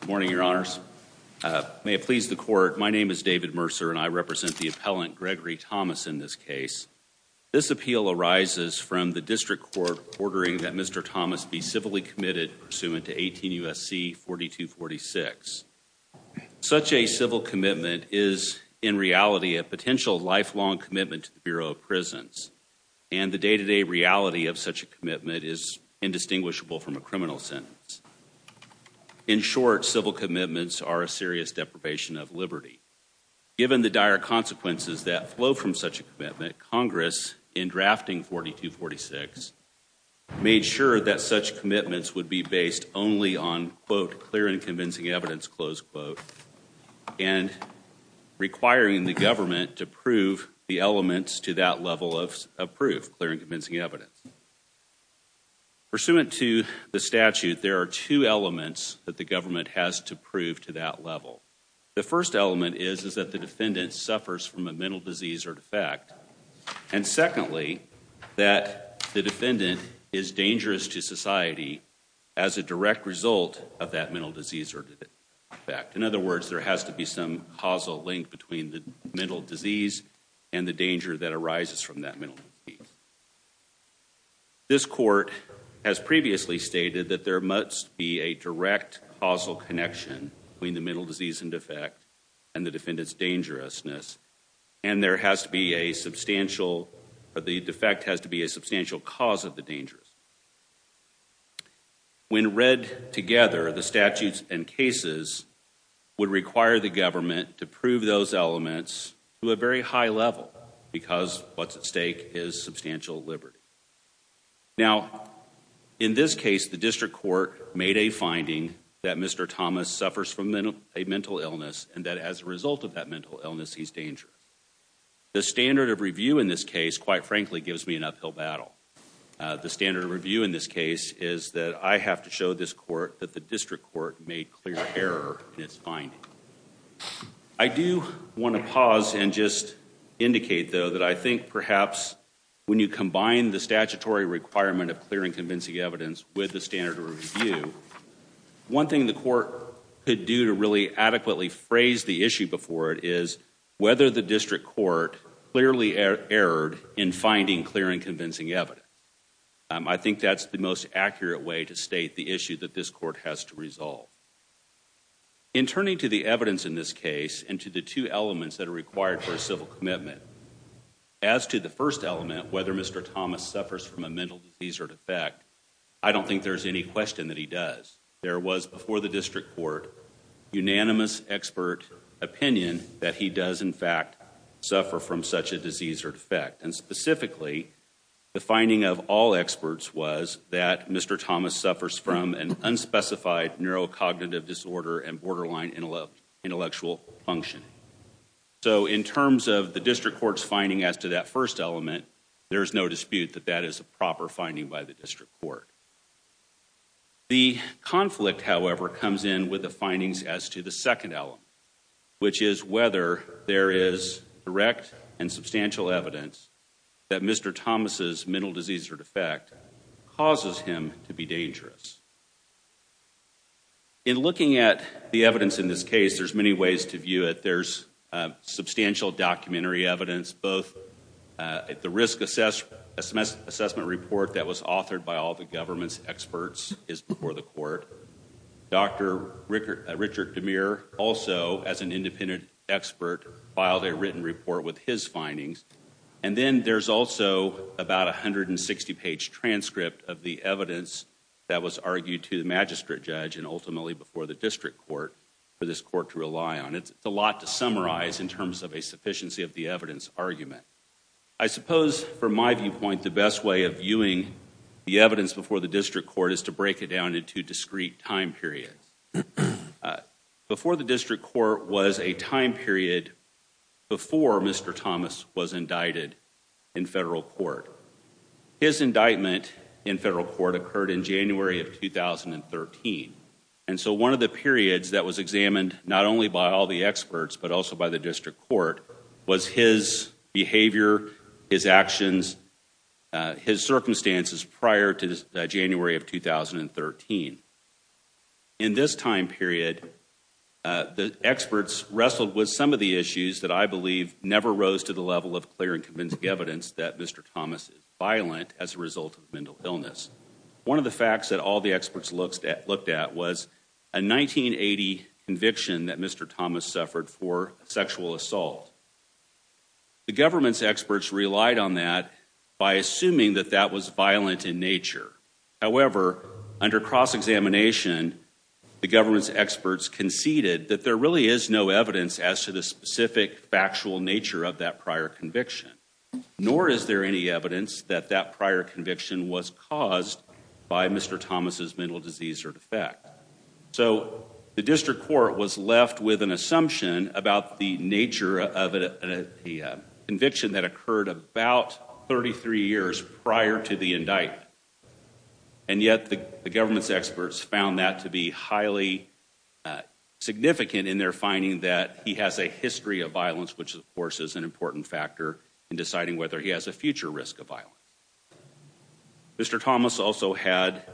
Good morning, your honors. May it please the court, my name is David Mercer and I represent the appellant Gregory Thomas in this case. This appeal arises from the district court ordering that Mr. Thomas be civilly committed pursuant to 18 U.S.C. 4246. Such a civil commitment is in reality a potential lifelong commitment to the Bureau of Prisons and the day-to-day reality of such a commitment is indistinguishable from a criminal sentence. In short, civil commitments are a serious deprivation of liberty. Given the dire consequences that flow from such a commitment, Congress in drafting 4246 made sure that such commitments would be based only on quote clear and convincing evidence close quote and requiring the government to prove the elements to that level of proof, clear and convincing evidence. Pursuant to the statute, there are two elements that the government has to prove to that level. The first element is is that the defendant suffers from a mental disease or defect and secondly that the defendant is dangerous to society as a direct result of that mental disease or defect. In other words, there has to be some causal link between the mental disease and the danger that arises from that mental disease. This court has previously stated that there must be a direct causal connection between the mental disease and defect and the defendant's dangerousness and there has to be a substantial or the defect has to be a substantial cause of the dangers. When read together, the statutes and cases would require the government to prove those elements to a very high level because what's at stake is substantial liberty. Now in this case, the district court made a finding that Mr. Thomas suffers from a mental illness and that as a result of that mental illness he's dangerous. The standard of review in this case quite frankly gives me an uphill battle. The standard of review in this case is that I have to show this finding. I do want to pause and just indicate though that I think perhaps when you combine the statutory requirement of clear and convincing evidence with the standard of review, one thing the court could do to really adequately phrase the issue before it is whether the district court clearly erred in finding clear and convincing evidence. I think that's the most to the evidence in this case and to the two elements that are required for a civil commitment. As to the first element, whether Mr. Thomas suffers from a mental disease or defect, I don't think there's any question that he does. There was before the district court unanimous expert opinion that he does in fact suffer from such a disease or defect and specifically the finding of all experts was that Mr. Thomas suffers from an unspecified neurocognitive disorder and intellectual function. So in terms of the district court's finding as to that first element, there is no dispute that that is a proper finding by the district court. The conflict however comes in with the findings as to the second element which is whether there is direct and substantial evidence that Mr. Thomas's mental disease or defect causes him to be dangerous. In looking at the evidence in this case, there's many ways to view it. There's substantial documentary evidence both at the risk assessment report that was authored by all the government's experts is before the court. Dr. Richard DeMere also as an independent expert filed a written report with his findings. And then there's also about a hundred and sixty page transcript of the evidence that was for this court to rely on. It's a lot to summarize in terms of a sufficiency of the evidence argument. I suppose from my viewpoint the best way of viewing the evidence before the district court is to break it down into discrete time periods. Before the district court was a time period before Mr. Thomas was indicted in federal court. His indictment in federal court occurred in January of 2013 and so one of the periods that was examined not only by all the experts but also by the district court was his behavior, his actions, his circumstances prior to January of 2013. In this time period, the experts wrestled with some of the issues that I believe never rose to the level of clear and convincing evidence that Mr. Thomas is violent as a result of mental illness. One of the facts that all the experts looked at was a 1980 conviction that Mr. Thomas suffered for sexual assault. The government's experts relied on that by assuming that that was violent in nature. However, under cross-examination the government's experts conceded that there really is no evidence as to the specific factual nature of that prior conviction. Nor is there any evidence that that prior was his mental disease or defect. So the district court was left with an assumption about the nature of a conviction that occurred about 33 years prior to the indictment and yet the government's experts found that to be highly significant in their finding that he has a history of violence which of course is an important factor in deciding whether he has a future risk of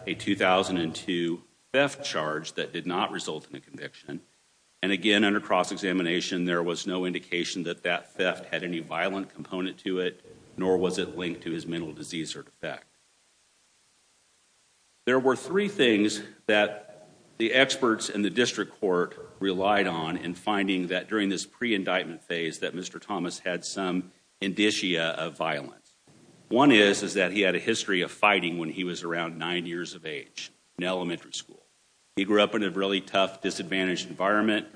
a 2002 theft charge that did not result in a conviction and again under cross-examination there was no indication that that theft had any violent component to it nor was it linked to his mental disease or defect. There were three things that the experts in the district court relied on in finding that during this pre-indictment phase that Mr. Thomas had some indicia of violence. One is is that he had a history of fighting when he was around nine years of age in elementary school. He grew up in a really tough disadvantaged environment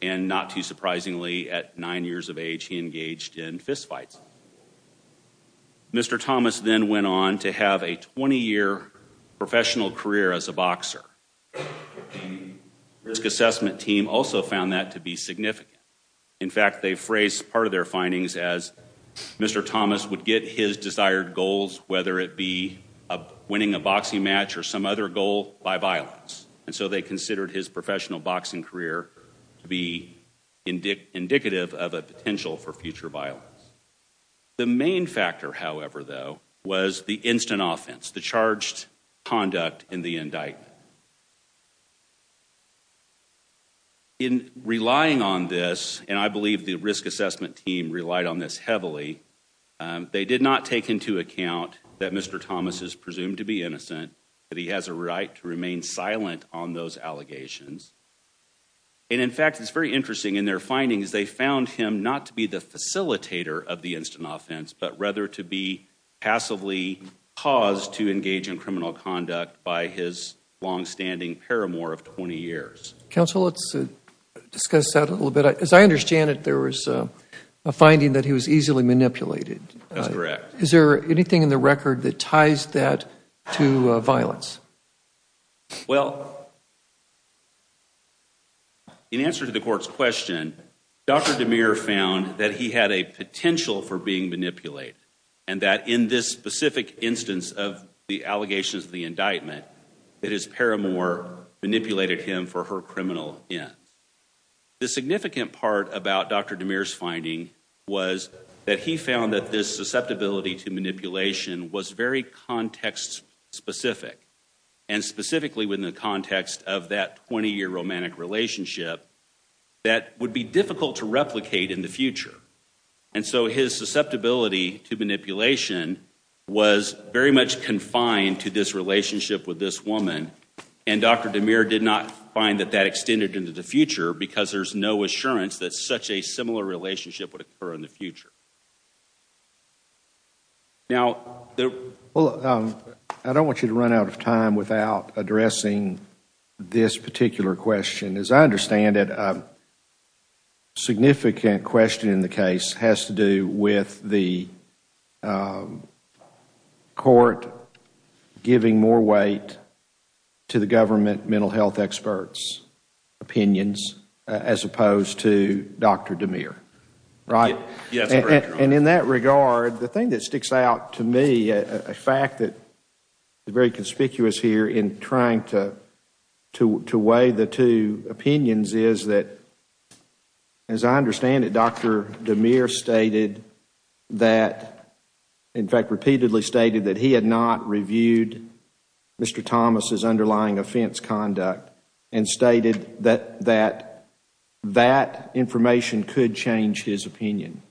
and not too surprisingly at nine years of age he engaged in fist fights. Mr. Thomas then went on to have a 20-year professional career as a boxer. Risk assessment team also found that to be significant. In fact they phrased part of their findings as Mr. Thomas would get his desired goals whether it be winning a boxing match or some other goal by violence and so they considered his professional boxing career to be indicative of a potential for future violence. The main factor however though was the instant offense the charged conduct in the indictment. In relying on this and I believe the risk assessment team relied on this heavily they did not take into account that Mr. Thomas's presumed to be innocent that he has a right to remain silent on those allegations and in fact it's very interesting in their findings they found him not to be the facilitator of the instant offense but rather to be passively caused to engage in criminal conduct by his long-standing paramour of 20 years. Counsel let's discuss that a little bit as I understand it there was a finding that he was easily manipulated. That's correct. Is there anything in the violence? Well in answer to the court's question Dr. DeMere found that he had a potential for being manipulated and that in this specific instance of the allegations of the indictment that his paramour manipulated him for her criminal ends. The significant part about Dr. DeMere's finding was that he found that this susceptibility to manipulation was very context specific and specifically within the context of that 20-year romantic relationship that would be difficult to replicate in the future and so his susceptibility to manipulation was very much confined to this relationship with this woman and Dr. DeMere did not find that that extended into the future because there's no assurance that such a similar relationship would occur in the future. Now I don't want you to run out of time without addressing this particular question. As I understand it a significant question in the case has to do with the court giving more weight to the government mental health experts opinions as opposed to Dr. DeMere, right? And in that regard the thing that sticks out to me a fact that is very conspicuous here in trying to to weigh the two opinions is that as I understand it Dr. DeMere stated that in fact repeatedly stated that he had not reviewed Mr. Thomas's underlying offense conduct and stated that that that information could change his opinion.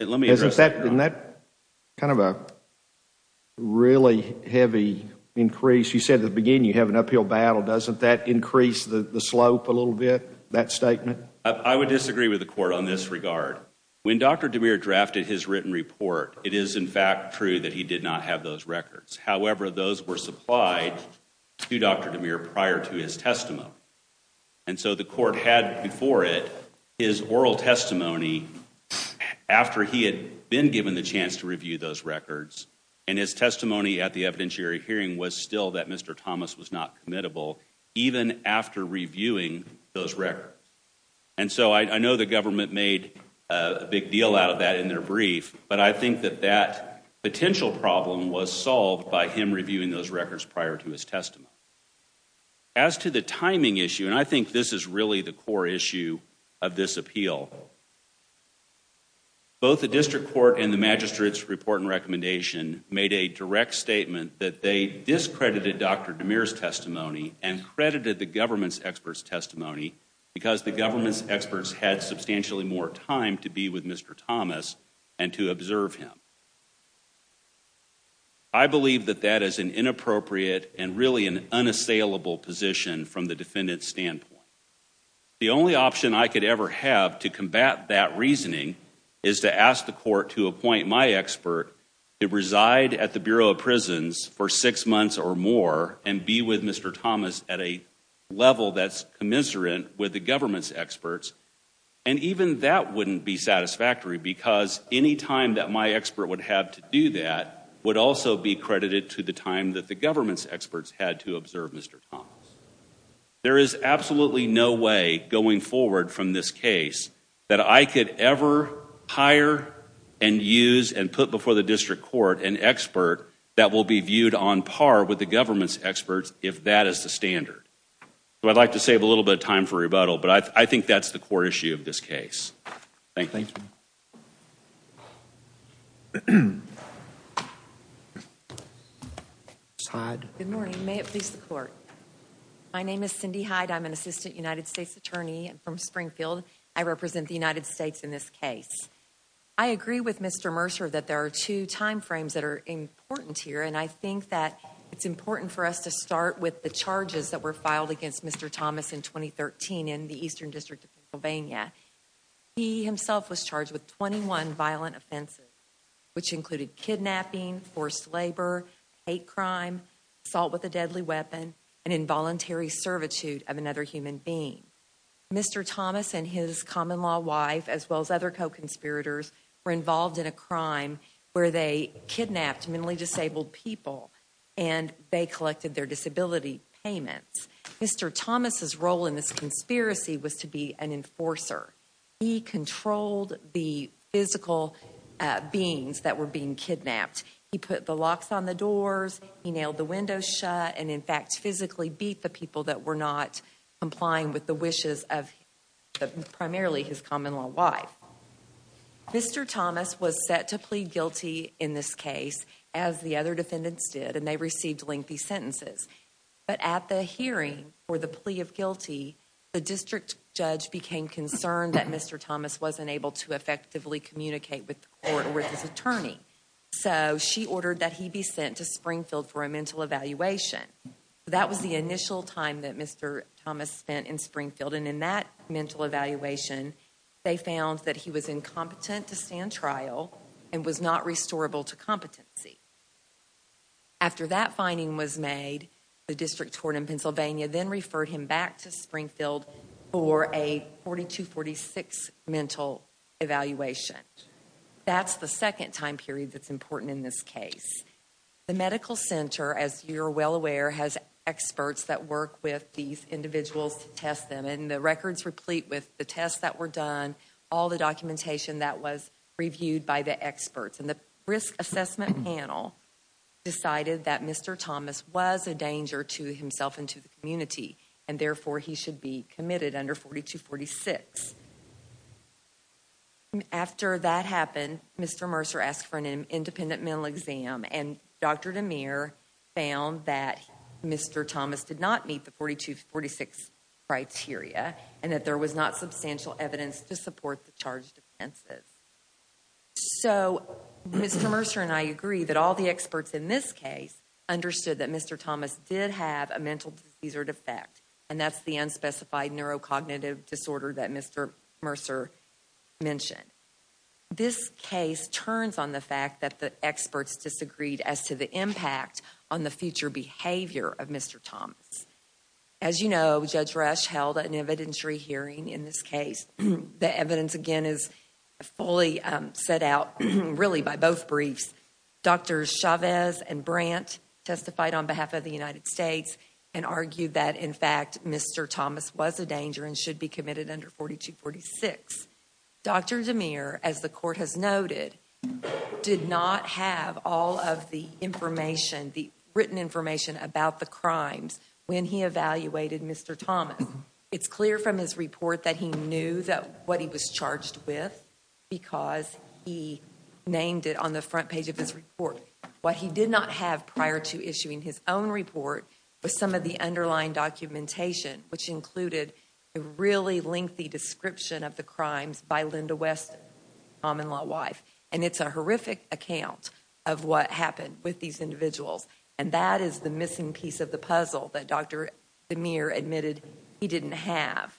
Isn't that kind of a really heavy increase you said the beginning you have an uphill battle doesn't that increase the slope a little bit that statement? I would disagree with the court on this regard. When Dr. DeMere drafted his written report it is in fact true that he did not have those records however those were supplied to Dr. DeMere prior to his testimony and so the court had before it his oral testimony after he had been given the chance to review those records and his testimony at the evidentiary hearing was still that Mr. Thomas was not committable even after reviewing those records. And so I know the government made a big deal out of that in their brief but I think that potential problem was solved by him reviewing those records prior to his testimony. As to the timing issue and I think this is really the core issue of this appeal both the district court and the magistrates report and recommendation made a direct statement that they discredited Dr. DeMere's testimony and credited the government's experts testimony because the government's experts had substantially more time to be with Mr. Thomas and to be with him. I believe that that is an inappropriate and really an unassailable position from the defendant's standpoint. The only option I could ever have to combat that reasoning is to ask the court to appoint my expert to reside at the Bureau of Prisons for six months or more and be with Mr. Thomas at a level that's commiserate with the government's experts and even that wouldn't be have to do that would also be credited to the time that the government's experts had to observe Mr. Thomas. There is absolutely no way going forward from this case that I could ever hire and use and put before the district court an expert that will be viewed on par with the government's experts if that is the standard. So I'd like to save a little bit of time for rebuttal but I think that's the core issue of this case. Thank you. Good morning. May it please the court. My name is Cindy Hyde. I'm an Assistant United States Attorney from Springfield. I represent the United States in this case. I agree with Mr. Mercer that there are two time frames that are important here and I think that it's important for us to start with the charges that were Mr. Thomas was charged with. He himself was charged with 21 violent offenses which included kidnapping, forced labor, hate crime, assault with a deadly weapon, and involuntary servitude of another human being. Mr. Thomas and his common-law wife as well as other co-conspirators were involved in a crime where they kidnapped mentally disabled people and they collected their disability payments. Mr. Thomas was an enforcer. He controlled the physical beings that were being kidnapped. He put the locks on the doors, he nailed the windows shut, and in fact physically beat the people that were not complying with the wishes of primarily his common-law wife. Mr. Thomas was set to plead guilty in this case as the other defendants did and they received lengthy sentences. But at the hearing for the became concerned that Mr. Thomas wasn't able to effectively communicate with the court or with his attorney. So she ordered that he be sent to Springfield for a mental evaluation. That was the initial time that Mr. Thomas spent in Springfield and in that mental evaluation they found that he was incompetent to stand trial and was not restorable to competency. After that finding was made, the district court in Pennsylvania then referred him back to 4246 mental evaluation. That's the second time period that's important in this case. The Medical Center, as you're well aware, has experts that work with these individuals to test them and the records replete with the tests that were done, all the documentation that was reviewed by the experts, and the risk assessment panel decided that Mr. Thomas was a danger to himself and to the 4246. After that happened, Mr. Mercer asked for an independent mental exam and Dr. DeMere found that Mr. Thomas did not meet the 4246 criteria and that there was not substantial evidence to support the charged offenses. So Mr. Mercer and I agree that all the experts in this case understood that Mr. Thomas did have a mental disease or defect and that's the unspecified neurocognitive disorder that Mr. Mercer mentioned. This case turns on the fact that the experts disagreed as to the impact on the future behavior of Mr. Thomas. As you know, Judge Rush held an evidentiary hearing in this case. The evidence again is fully set out really by both briefs. Drs. Chavez and Brandt testified on behalf of the United States and argued that in fact Mr. Thomas was a danger and should be 4246. Dr. DeMere, as the court has noted, did not have all of the information, the written information about the crimes when he evaluated Mr. Thomas. It's clear from his report that he knew that what he was charged with because he named it on the front page of his report. What he did not have prior to issuing his own report was some of the underlying documentation which included a really lengthy description of the crimes by Linda West, common-law wife, and it's a horrific account of what happened with these individuals and that is the missing piece of the puzzle that Dr. DeMere admitted he didn't have.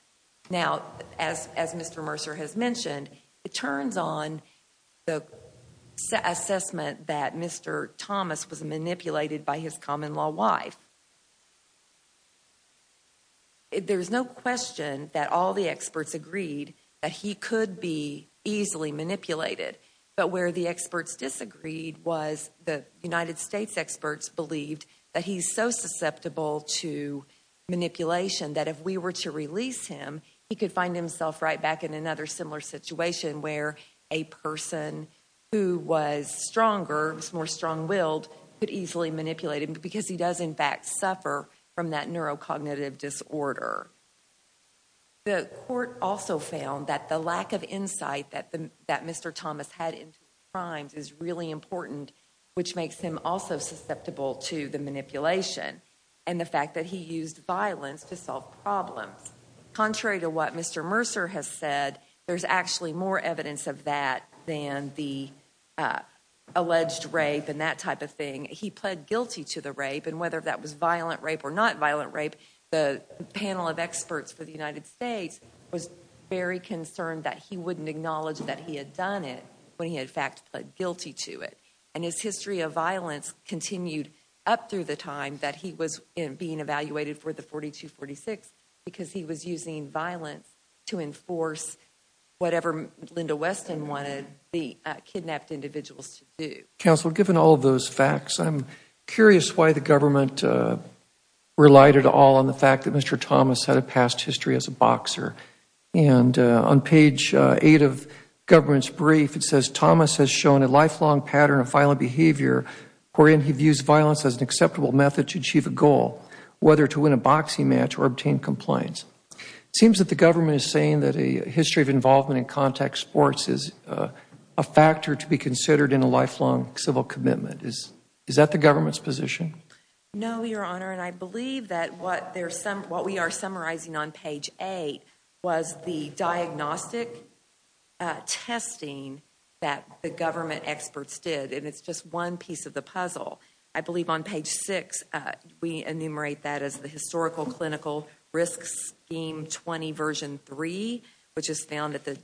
Now as Mr. Mercer has mentioned, it turns on the assessment that Mr. Thomas was that he could be easily manipulated but where the experts disagreed was the United States experts believed that he's so susceptible to manipulation that if we were to release him he could find himself right back in another similar situation where a person who was stronger, was more strong-willed, could easily manipulate him because he does in fact suffer from that neurocognitive disorder. The court also found that the lack of insight that Mr. Thomas had in crimes is really important which makes him also susceptible to the manipulation and the fact that he used violence to solve problems. Contrary to what Mr. Mercer has said, there's actually more evidence of that than the alleged rape and that type of thing. He pled guilty to the rape and whether that was violent rape or not violent rape, the panel of experts for the United States was very concerned that he wouldn't acknowledge that he had done it when he in fact pled guilty to it and his history of violence continued up through the time that he was in being evaluated for the 4246 because he was using violence to enforce whatever Linda Weston wanted the kidnapped individuals to do. Counselor, given all of those facts, I'm curious why the relied at all on the fact that Mr. Thomas had a past history as a boxer and on page 8 of government's brief it says Thomas has shown a lifelong pattern of violent behavior wherein he views violence as an acceptable method to achieve a goal, whether to win a boxing match or obtain compliance. It seems that the government is saying that a history of involvement in contact sports is a factor to be considered in a lifelong civil commitment. Is that the government's position? No your honor and I believe that what there's some what we are summarizing on page 8 was the diagnostic testing that the government experts did and it's just one piece of the puzzle. I believe on page 6 we enumerate that as the historical clinical risk scheme 20 version 3 which is found at the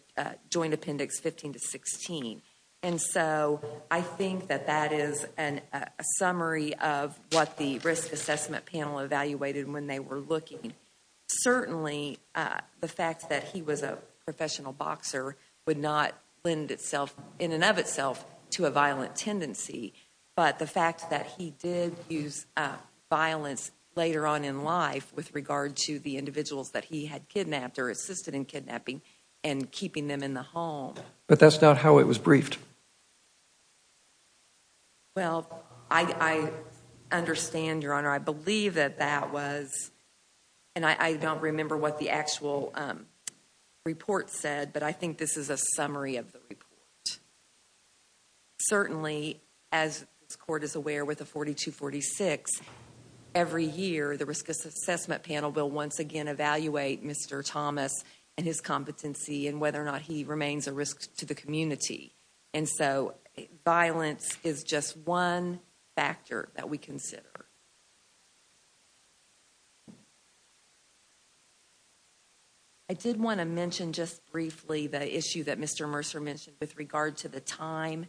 joint appendix 15 to 16 and so I think that that is an summary of what the risk assessment panel evaluated when they were looking. Certainly the fact that he was a professional boxer would not lend itself in and of itself to a violent tendency but the fact that he did use violence later on in life with regard to the individuals that he had kidnapped or assisted in kidnapping and keeping them in the home. But that's not how it was I understand your honor I believe that that was and I don't remember what the actual report said but I think this is a summary of the report. Certainly as this court is aware with a 4246 every year the risk assessment panel will once again evaluate Mr. Thomas and his competency and whether or not he remains a risk to the community and so violence is just one factor that we consider. I did want to mention just briefly the issue that Mr. Mercer mentioned with regard to the time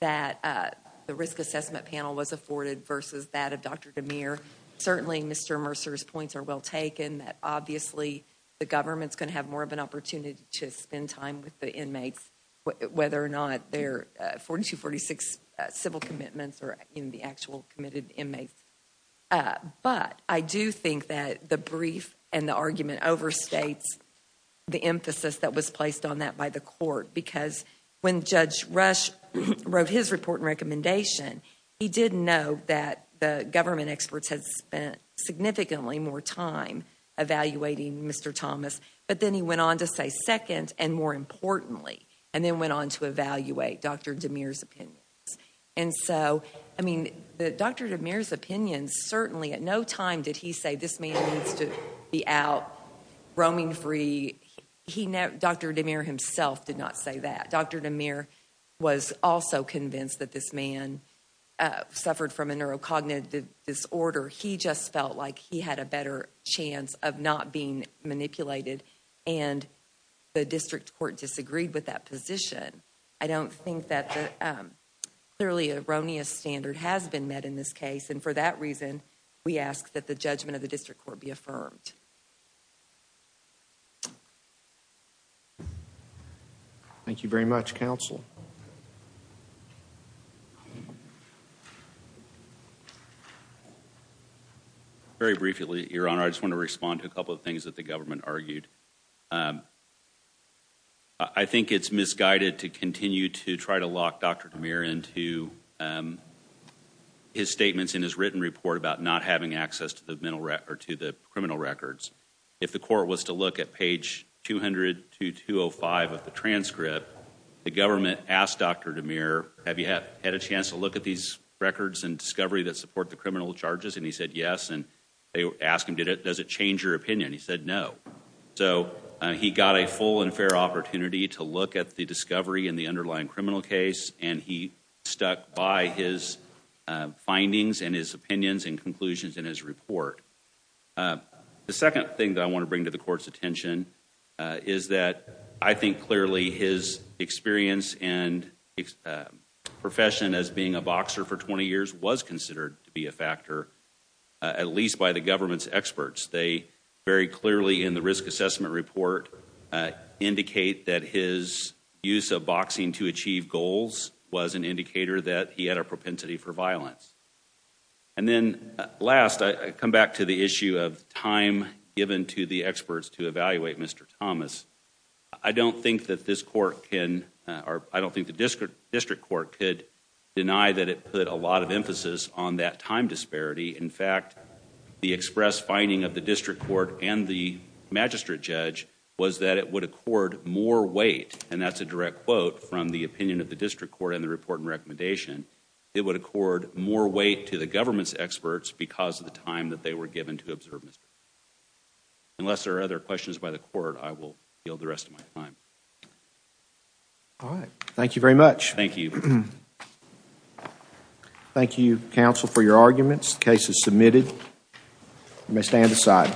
that the risk assessment panel was afforded versus that of Dr. DeMere. Certainly Mr. Mercer's points are well taken that obviously the government's going to have more of an opportunity to spend time with the inmates whether or not their 4246 civil commitments are in the actual committed inmates but I do think that the brief and the argument overstates the emphasis that was placed on that by the court because when Judge Rush wrote his report and recommendation he didn't know that the government experts had spent significantly more time evaluating Mr. Thomas but then he went on to say second and more importantly and then went on to evaluate Dr. DeMere's opinions and so I mean the Dr. DeMere's opinions certainly at no time did he say this man needs to be out roaming free. Dr. DeMere himself did not say that. Dr. DeMere was also convinced that this man suffered from a neurocognitive disorder. He just felt like he had a better chance of not being manipulated and the district court disagreed with that position. I don't think that the clearly erroneous standard has been met in this case and for that reason we ask that the judgment of the district court be affirmed. Thank you very much counsel. Very briefly your honor I just want to respond to a couple of things that the government argued. I think it's misguided to continue to try to lock Dr. DeMere into his statements in his written report about not having access to the criminal records. If the court was to look at page 200 to 205 of the government asked Dr. DeMere have you have had a chance to look at these records and discovery that support the criminal charges and he said yes and they asked him did it does it change your opinion he said no. So he got a full and fair opportunity to look at the discovery in the underlying criminal case and he stuck by his findings and his opinions and conclusions in his report. The second thing that I want to bring to the court's attention is that I think clearly his experience and profession as being a boxer for 20 years was considered to be a factor at least by the government's experts. They very clearly in the risk assessment report indicate that his use of boxing to achieve goals was an indicator that he had a propensity for violence. And then last I come back to the issue of time given to the experts to evaluate Mr. Thomas. I don't think that this court can or I don't think the district court could deny that it put a lot of emphasis on that time disparity. In fact the express finding of the district court and the magistrate judge was that it would accord more weight and that's a direct quote from the opinion of the district court in the report and recommendation. It would accord more weight to the government's experts because of the time that they were given to observe Mr. Thomas. Unless there are other questions by the court I will yield the rest of my time. All right, thank you very much. Thank you. Thank you counsel for your arguments. The case is submitted. You may stand aside.